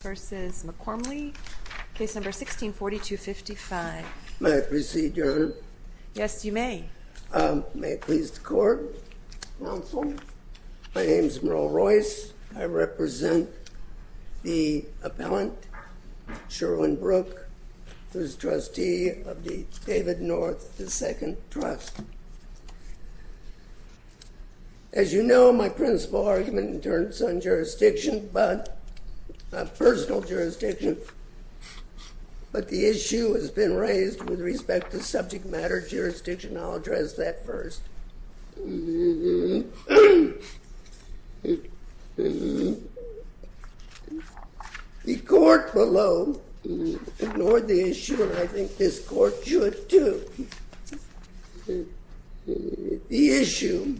v. McCormley, Case No. 16-4255. May I proceed, Your Honor? Yes, you may. May it please the Court, Counsel. My name is Merle Royce. I represent the appellant, Sherwin Brook, who is trustee of the David North II Trust. As you know, my principal argument in terms of jurisdiction, not personal jurisdiction, but the issue has been raised with respect to subject matter jurisdiction, and I'll address that first. The Court below ignored the issue, and I think this Court should too. The issue,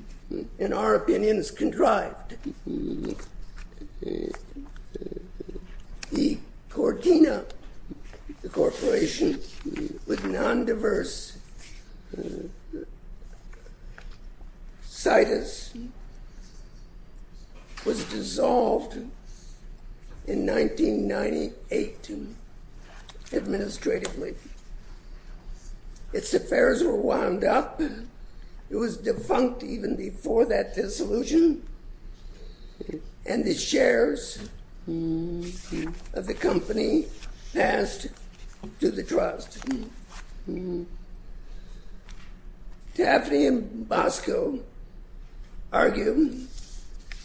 in our opinions, contrived. The Cortina Corporation, with non-diverse situs, was dissolved in 1998 administratively. Its affairs were wound up. It was defunct even before that dissolution, and the shares of the company passed to the trust. Taffney and Bosco argue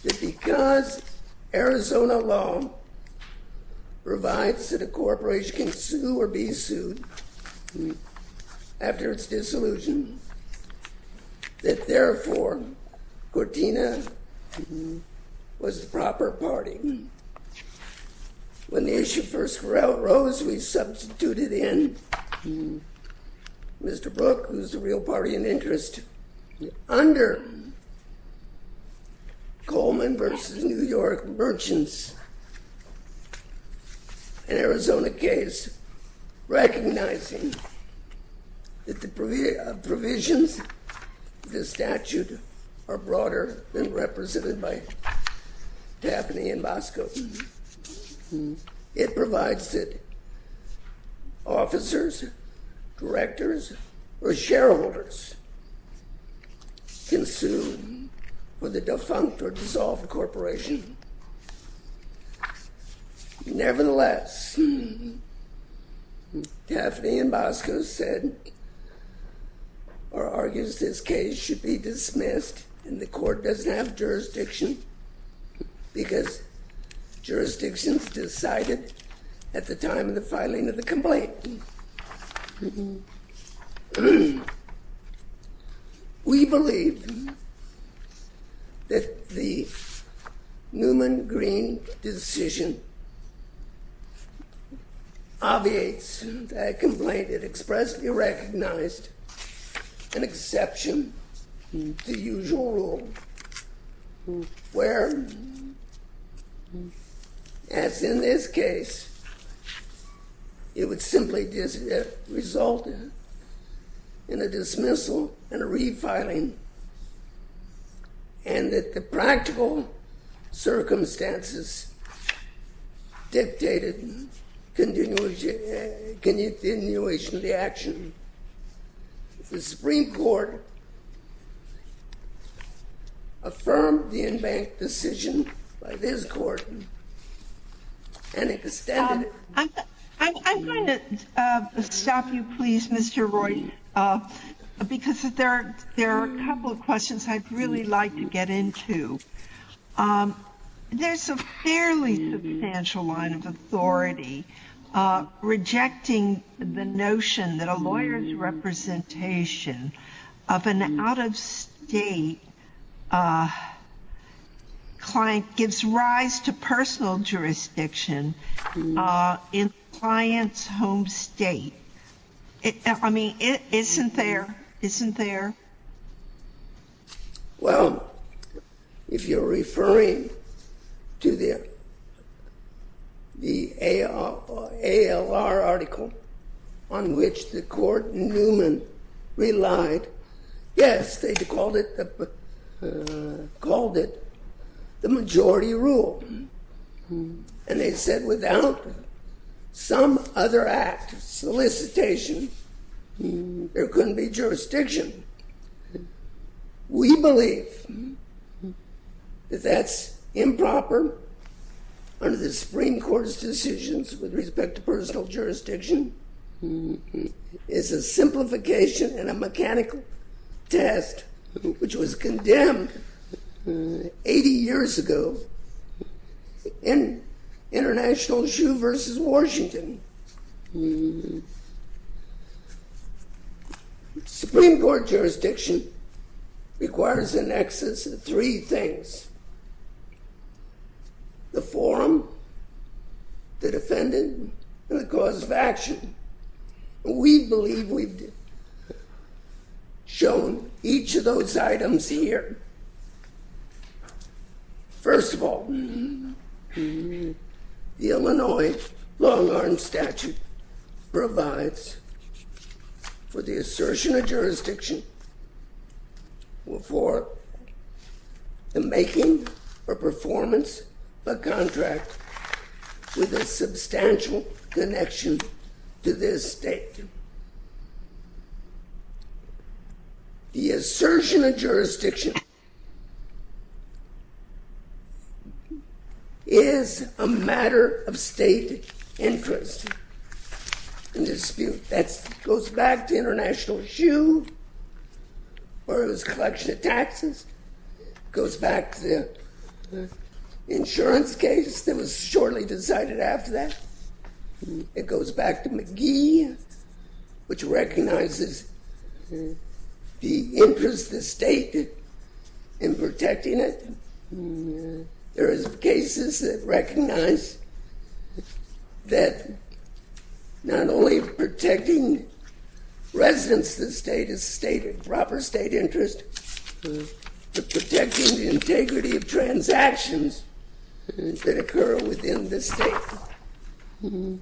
that because Arizona law provides that a corporation which can sue or be sued after its dissolution, that therefore Cortina was the proper party. When the issue first arose, we substituted in Mr. Brook, who's the real party in interest, under Coleman v. New York merchants in Arizona case, recognizing that the provisions of this statute are broader than represented by Taffney and Bosco. It provides that officers, directors, or shareholders can sue for the defunct or dissolved corporation. Nevertheless, Taffney and Bosco said or argues this case should be dismissed, and the Court doesn't have jurisdiction because jurisdictions decided at the time of the filing of the complaint. We believe that the Newman-Green decision obviates that complaint. It expressly recognized an exception to the usual rule, where, as in this case, it would simply result in a dismissal and a refiling, and that the practical circumstances dictated continuation of the action. The Supreme Court affirmed the embanked decision by this court, and extended it. I'm going to stop you, please, Mr. Roy, because there are a couple of questions I'd really like to get into. There's a fairly substantial line of authority rejecting the notion that a lawyer's representation of an out-of-state client gives rise to personal jurisdiction in the client's home state. Isn't there? Well, if you're referring to the ALR article on which the court in Newman relied, yes, they called it the majority rule, and they said without some other act of solicitation, there couldn't be jurisdiction. We believe that that's improper under the Supreme Court's decisions with respect to personal jurisdiction. It's a simplification and a mechanical test, which was condemned 80 years ago in International Shoe versus Washington. The Supreme Court jurisdiction requires in excess of three things, the forum, the defendant, and the cause of action. We believe we've shown each of those items here. First of all, the Illinois long-arm statute provides for the assertion of jurisdiction for the making or performance of a contract with a substantial connection to this state. Second, the assertion of jurisdiction is a matter of state interest and dispute. That goes back to International Shoe versus collection of taxes. It goes back to the insurance case that was shortly decided after that. It goes back to McGee, which recognizes the interest of the state in protecting it. There is cases that recognize that not only protecting residents of the state is proper state interest, but protecting the integrity of transactions that occur within the state. In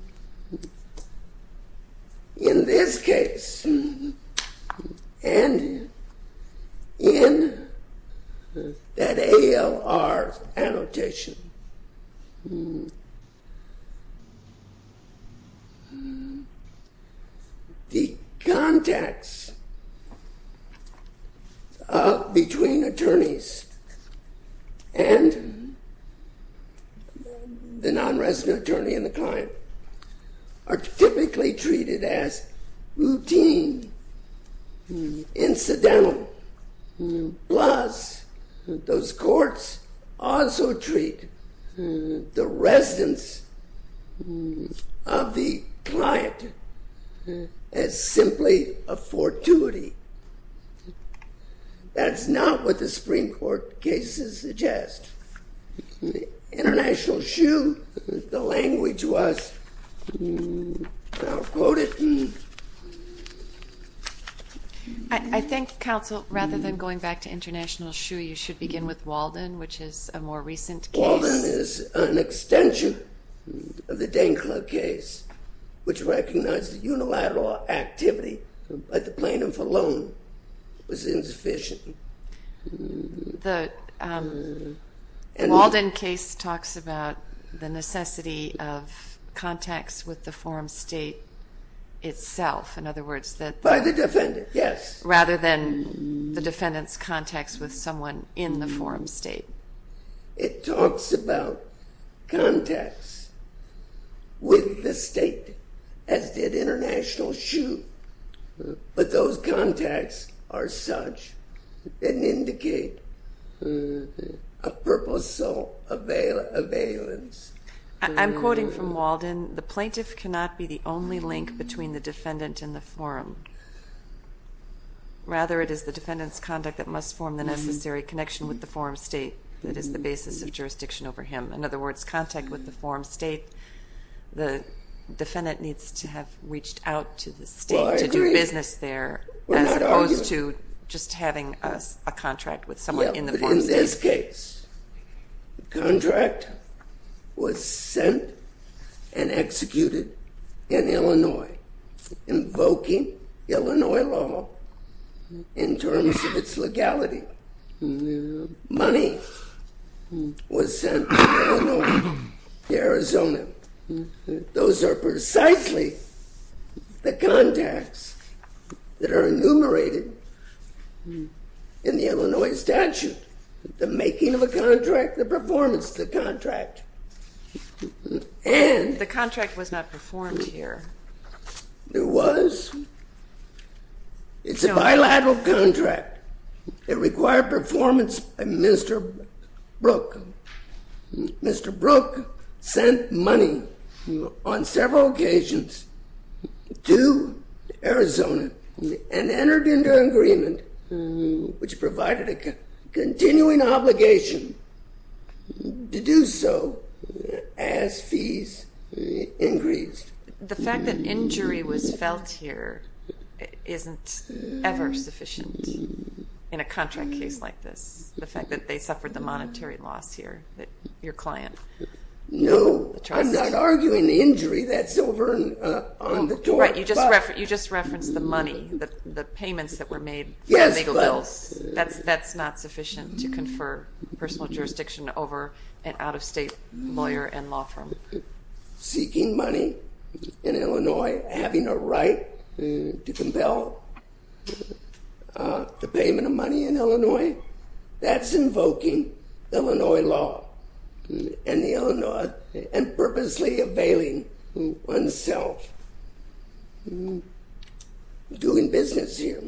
this case, and in that ALR annotation, the contacts between attorneys and the non-resident attorney and the client are typically treated as routine, incidental. Plus, those courts also treat the residence of the client as simply a fortuity. That's not what the Supreme Court cases suggest. In International Shoe, the language was, and I'll quote it. I think, counsel, rather than going back to International Shoe, you should begin with Walden, which is a more recent case. Walden is an extension of the Dane Club case, which recognized the unilateral activity of the plaintiff alone was insufficient. The Walden case talks about the necessity of contacts with the forum state itself. By the defendant, yes. Rather than the defendant's contacts with someone in the forum state. It talks about contacts with the state, as did International Shoe. But those contacts are such and indicate a purposeful availance. I'm quoting from Walden. The plaintiff cannot be the only link between the defendant and the forum. Rather, it is the defendant's conduct that must form the necessary connection with the forum state that is the basis of jurisdiction over him. In other words, contact with the forum state, the defendant needs to have reached out to the state to do business there, as opposed to just having a contract with someone in the forum state. In this case, the contract was sent and executed in Illinois, invoking Illinois law in terms of its legality. Money was sent from Illinois to Arizona. Those are precisely the contacts that are enumerated in the Illinois statute. The making of a contract, the performance of the contract. The contract was not performed here. It was. It's a bilateral contract. It required performance by Mr. Brook. Mr. Brook sent money on several occasions to Arizona and entered into an agreement which provided a continuing obligation to do so as fees increased. The fact that injury was felt here isn't ever sufficient in a contract case like this. The fact that they suffered the monetary loss here, your client. No. I'm not arguing injury. That's over on the court. Right. You just referenced the money, the payments that were made for legal bills. Yes, but. That's not sufficient to confer personal jurisdiction over an out-of-state lawyer and law firm. Seeking money in Illinois. Having a right to compel the payment of money in Illinois. That's invoking Illinois law. And the Illinois. And purposely availing oneself. Doing business here.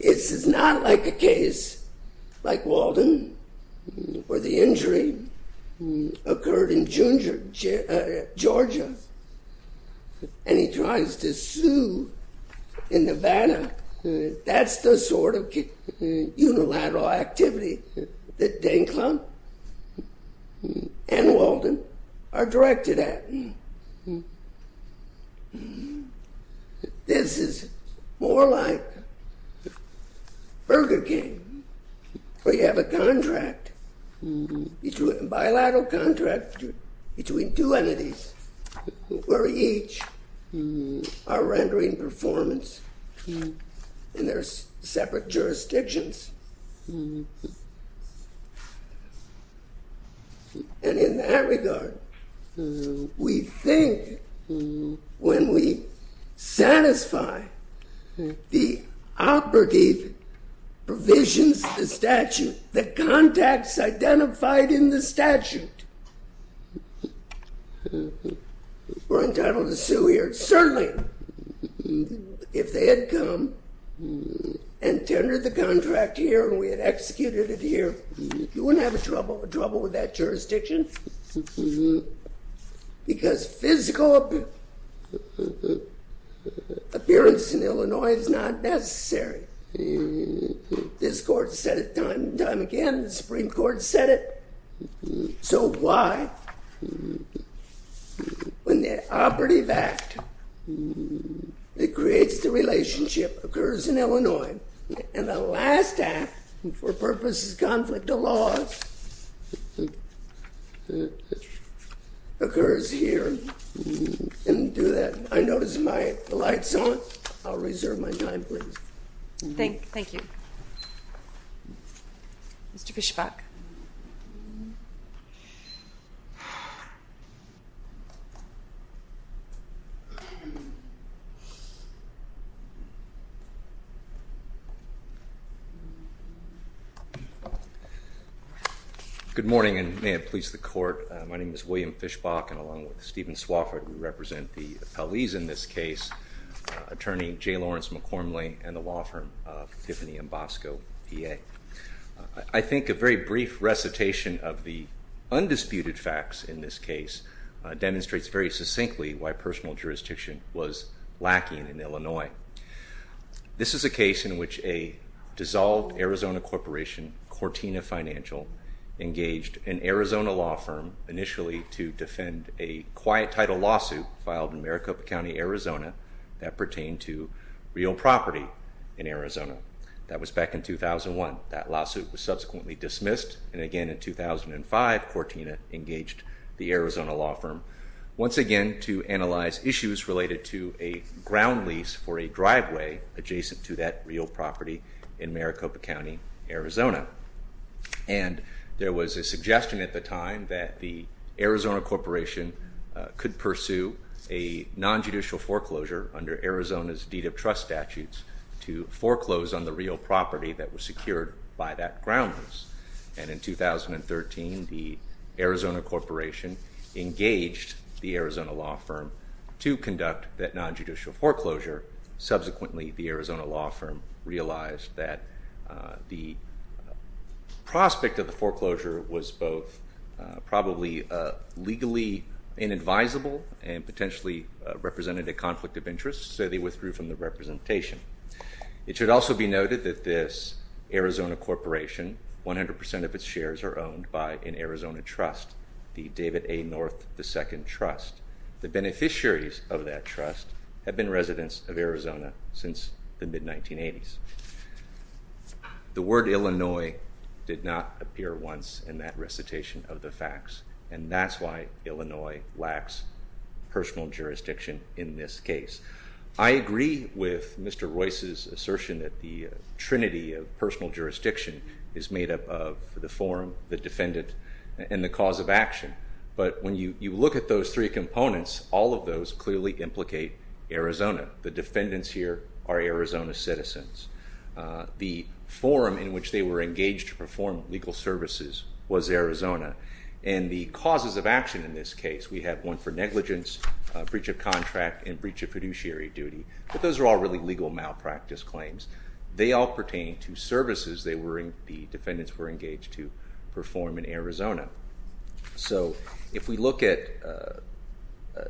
This is not like a case like Walden where the injury occurred in Georgia. And he tries to sue in Nevada. That's the sort of unilateral activity that Dane Klum and Walden are directed at. This is more like Burger King where you have a contract. A bilateral contract between two entities where each are rendering performance in their separate jurisdictions. And in that regard, we think when we satisfy the operative provisions of the statute, the contacts identified in the statute. We're entitled to sue here. Certainly, if they had come and tendered the contract here and we had executed it here, you wouldn't have a trouble with that jurisdiction. Because physical appearance in Illinois is not necessary. This court said it time and time again. The Supreme Court said it. So why, when the operative act that creates the relationship occurs in Illinois. And the last act, for purposes of conflict of law, occurs here. I notice my light's on. I'll reserve my time, please. Thank you. Mr. Fischbach. Good morning, and may it please the court. My name is William Fischbach, and along with Stephen Swofford, we represent the appellees in this case. Attorney Jay Lawrence McCormley and the law firm Tiffany Ambosco, PA. I think a very brief recitation of the undisputed facts in this case demonstrates very succinctly why personal jurisdiction was lacking in Illinois. This is a case in which a dissolved Arizona corporation, Cortina Financial, engaged an Arizona law firm initially to defend a quiet title lawsuit filed in Maricopa County, Arizona, that pertained to real property in Arizona. That was back in 2001. That lawsuit was subsequently dismissed, and again in 2005, Cortina engaged the Arizona law firm once again to analyze issues related to a ground lease for a driveway adjacent to that real property in Maricopa County, Arizona. And there was a suggestion at the time that the Arizona corporation could pursue a nonjudicial foreclosure under Arizona's deed of trust statutes to foreclose on the real property that was secured by that ground lease. And in 2013, the Arizona corporation engaged the Arizona law firm to conduct that nonjudicial foreclosure. Subsequently, the Arizona law firm realized that the prospect of the foreclosure was both probably legally inadvisable and potentially represented a conflict of interest, so they withdrew from the representation. It should also be noted that this Arizona corporation, 100% of its shares are owned by an Arizona trust, the David A. North II Trust. The beneficiaries of that trust have been residents of Arizona since the mid-1980s. The word Illinois did not appear once in that recitation of the facts, and that's why Illinois lacks personal jurisdiction in this case. I agree with Mr. Royce's assertion that the trinity of personal jurisdiction is made up of the forum, the defendant, and the cause of action. But when you look at those three components, all of those clearly implicate Arizona. The defendants here are Arizona citizens. The forum in which they were engaged to perform legal services was Arizona. And the causes of action in this case, we have one for negligence, breach of contract, and breach of fiduciary duty. But those are all really legal malpractice claims. They all pertain to services the defendants were engaged to perform in Arizona. So if we look at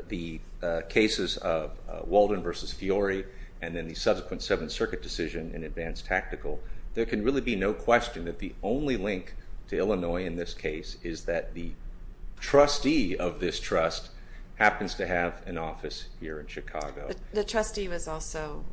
the cases of Walden v. Fiore and then the subsequent Seventh Circuit decision in advanced tactical, there can really be no question that the only link to Illinois in this case is that the trustee of this trust happens to have an office here in Chicago. The trustee was also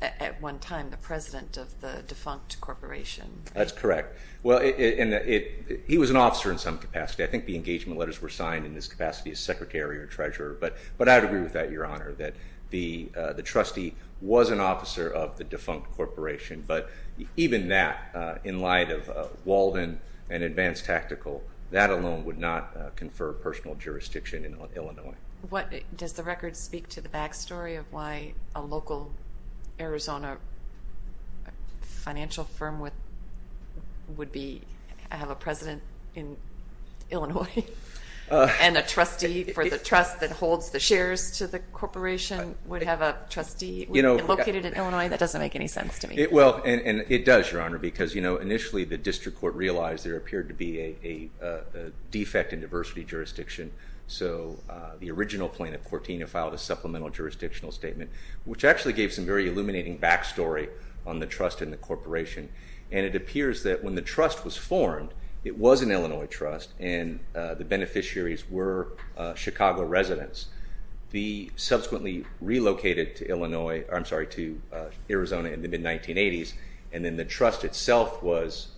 at one time the president of the defunct corporation. That's correct. He was an officer in some capacity. I think the engagement letters were signed in this capacity as secretary or treasurer. But I would agree with that, Your Honor, that the trustee was an officer of the defunct corporation. But even that, in light of Walden and advanced tactical, that alone would not confer personal jurisdiction in Illinois. Does the record speak to the back story of why a local Arizona financial firm would have a president in Illinois and a trustee for the trust that holds the shares to the corporation would have a trustee located in Illinois? That doesn't make any sense to me. It does, Your Honor, because initially the district court realized there appeared to be a defect in diversity jurisdiction. So the original plaintiff, Cortina, filed a supplemental jurisdictional statement, which actually gave some very illuminating back story on the trust in the corporation. And it appears that when the trust was formed, it was an Illinois trust, and the beneficiaries were Chicago residents. They subsequently relocated to Arizona in the mid-1980s, and then the trust itself was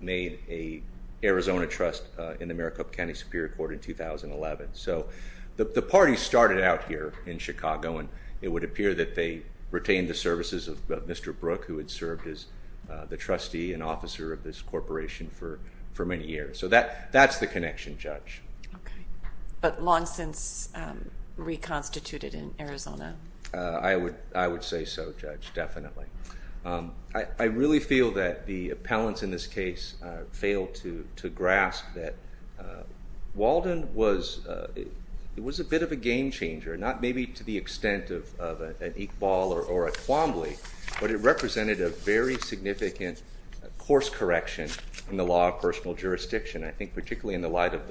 made an Arizona trust in the Maricopa County Superior Court in 2011. So the party started out here in Chicago, and it would appear that they retained the services of Mr. Brook, who had served as the trustee and officer of this corporation for many years. So that's the connection, Judge. But long since reconstituted in Arizona? I would say so, Judge, definitely. I really feel that the appellants in this case failed to grasp that Walden was a bit of a game changer, not maybe to the extent of an Iqbal or a Quambly, but it represented a very significant course correction in the law of personal jurisdiction, I think particularly in the light of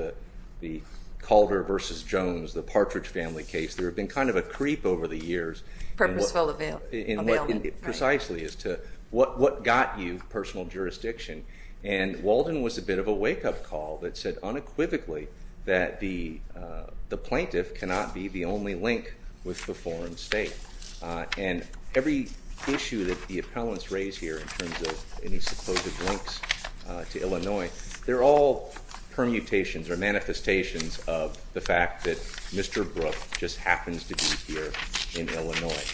the Calder v. Jones, the Partridge family case. There had been kind of a creep over the years. Purposeful availment. Precisely, as to what got you personal jurisdiction. And Walden was a bit of a wake-up call that said unequivocally that the plaintiff cannot be the only link with the foreign state. And every issue that the appellants raise here in terms of any supposed links to Illinois, they're all permutations or manifestations of the fact that Mr. Brook just happens to be here in Illinois.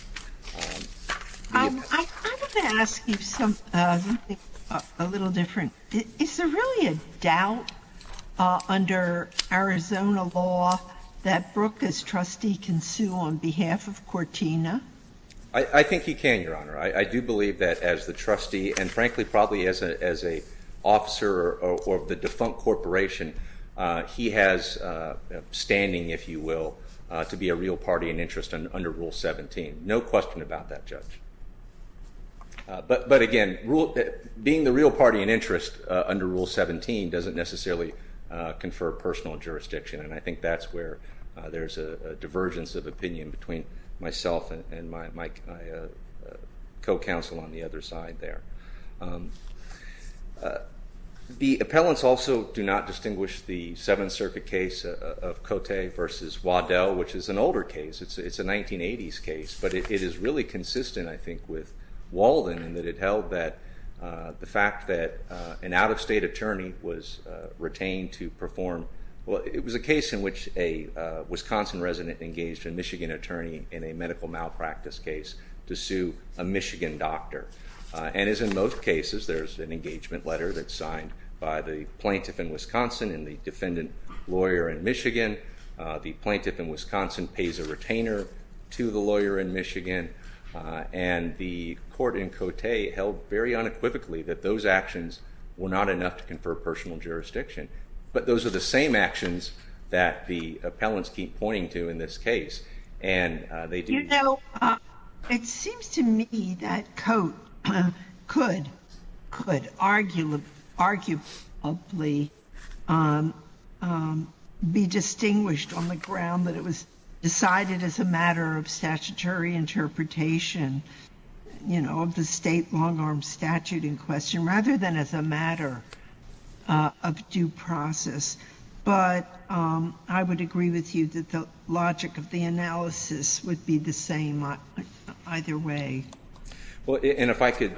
I wanted to ask you something a little different. Is there really a doubt under Arizona law that Brook, as trustee, can sue on behalf of Cortina? I do believe that as the trustee and, frankly, probably as an officer of the defunct corporation, he has standing, if you will, to be a real party and interest under Rule 17. No question about that, Judge. But, again, being the real party and interest under Rule 17 doesn't necessarily confer personal jurisdiction, and I think that's where there's a divergence of opinion between myself and my co-counsel on the other side there. The appellants also do not distinguish the Seventh Circuit case of Cote v. Waddell, which is an older case. It's a 1980s case, but it is really consistent, I think, with Walden in that it held that the fact that an out-of-state attorney was retained to perform – well, it was a case in which a Wisconsin resident engaged a Michigan attorney in a medical malpractice case to sue a Michigan doctor. And as in most cases, there's an engagement letter that's signed by the plaintiff in Wisconsin and the defendant lawyer in Michigan. The plaintiff in Wisconsin pays a retainer to the lawyer in Michigan, and the court in Cote held very unequivocally that those actions were not enough to confer personal jurisdiction. But those are the same actions that the appellants keep pointing to in this case, and they do – You know, it seems to me that Cote could arguably be distinguished on the ground that it was decided as a matter of statutory interpretation, you know, of the state long-arm statute in question, rather than as a matter of due process. But I would agree with you that the logic of the analysis would be the same either way. Well, and if I could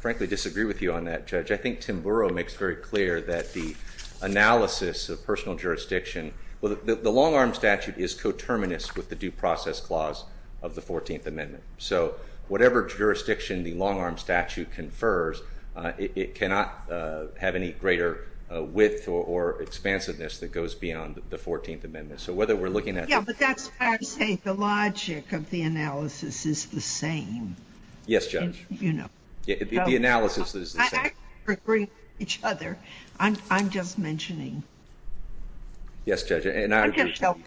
frankly disagree with you on that, Judge, I think Tim Burrow makes very clear that the analysis of personal jurisdiction – well, the long-arm statute is coterminous with the due process clause of the 14th Amendment. So whatever jurisdiction the long-arm statute confers, it cannot have any greater width or expansiveness that goes beyond the 14th Amendment. So whether we're looking at – Yeah, but that's why I say the logic of the analysis is the same. Yes, Judge. You know. The analysis is the same. We're agreeing with each other. I'm just mentioning. Yes, Judge. I'm just helping.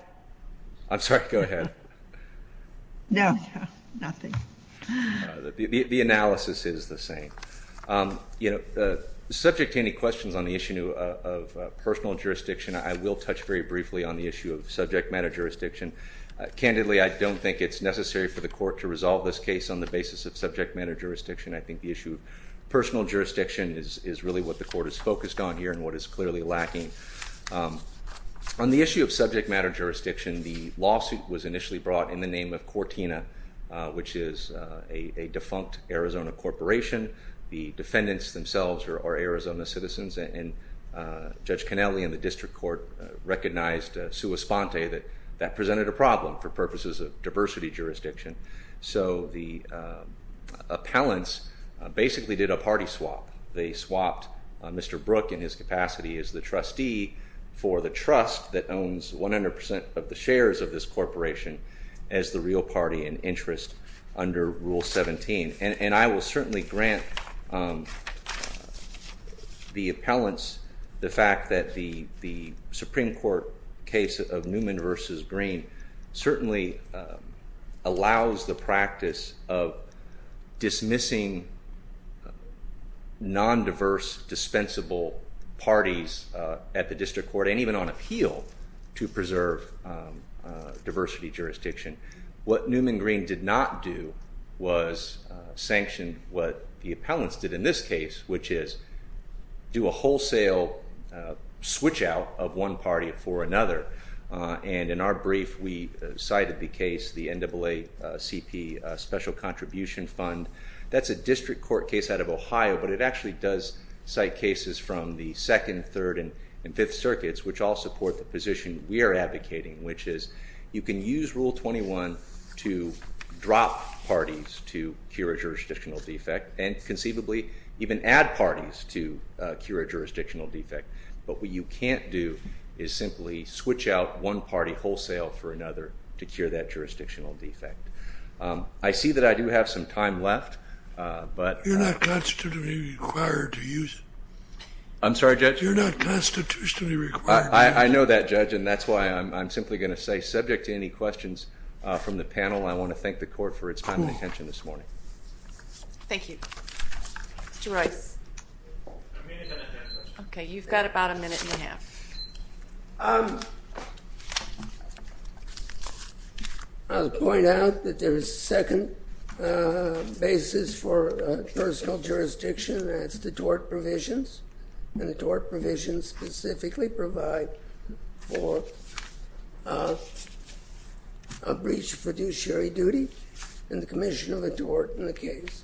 I'm sorry. Go ahead. No, no, nothing. The analysis is the same. You know, subject to any questions on the issue of personal jurisdiction, I will touch very briefly on the issue of subject matter jurisdiction. Candidly, I don't think it's necessary for the Court to resolve this case on the basis of subject matter jurisdiction. I think the issue of personal jurisdiction is really what the Court is focused on here and what is clearly lacking. On the issue of subject matter jurisdiction, the lawsuit was initially brought in the name of Cortina, which is a defunct Arizona corporation. The defendants themselves are Arizona citizens, and Judge Cannelli and the district court recognized sua sponte that that presented a problem for purposes of diversity jurisdiction. So the appellants basically did a party swap. They swapped Mr. Brook in his capacity as the trustee for the trust that owns 100% of the shares of this corporation as the real party in interest under Rule 17. And I will certainly grant the appellants the fact that the Supreme Court case of Newman v. Green certainly allows the practice of dismissing non-diverse, dispensable parties at the district court and even on appeal to preserve diversity jurisdiction. What Newman v. Green did not do was sanction what the appellants did in this case, which is do a wholesale switch out of one party for another. And in our brief, we cited the case, the NAACP Special Contribution Fund. That's a district court case out of Ohio, but it actually does cite cases from the 2nd, 3rd, and 5th circuits, which all support the position we are advocating, which is you can use Rule 21 to drop parties to cure a jurisdictional defect and conceivably even add parties to cure a jurisdictional defect. But what you can't do is simply switch out one party wholesale for another to cure that jurisdictional defect. I see that I do have some time left. You're not constitutionally required to use it. I'm sorry, Judge? You're not constitutionally required to use it. I know that, Judge, and that's why I'm simply going to say subject to any questions from the panel, I want to thank the court for its time and attention this morning. Thank you. Mr. Rice. Okay, you've got about a minute and a half. I'll point out that there is a second basis for personal jurisdiction, and that's the tort provisions, and the tort provisions specifically provide for a breach of fiduciary duty in the commission of a tort in the case.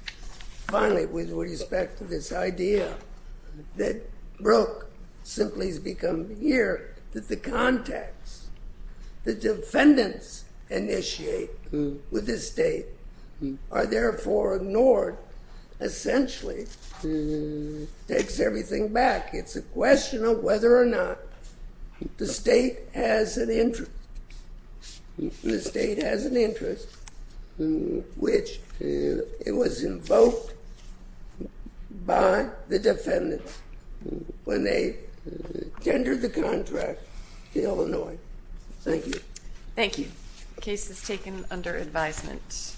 Finally, with respect to this idea that Brooke simply has become here, that the context the defendants initiate with the state are therefore ignored essentially takes everything back. It's a question of whether or not the state has an interest. It was invoked by the defendants when they tendered the contract to Illinois. Thank you. Thank you. The case is taken under advisement.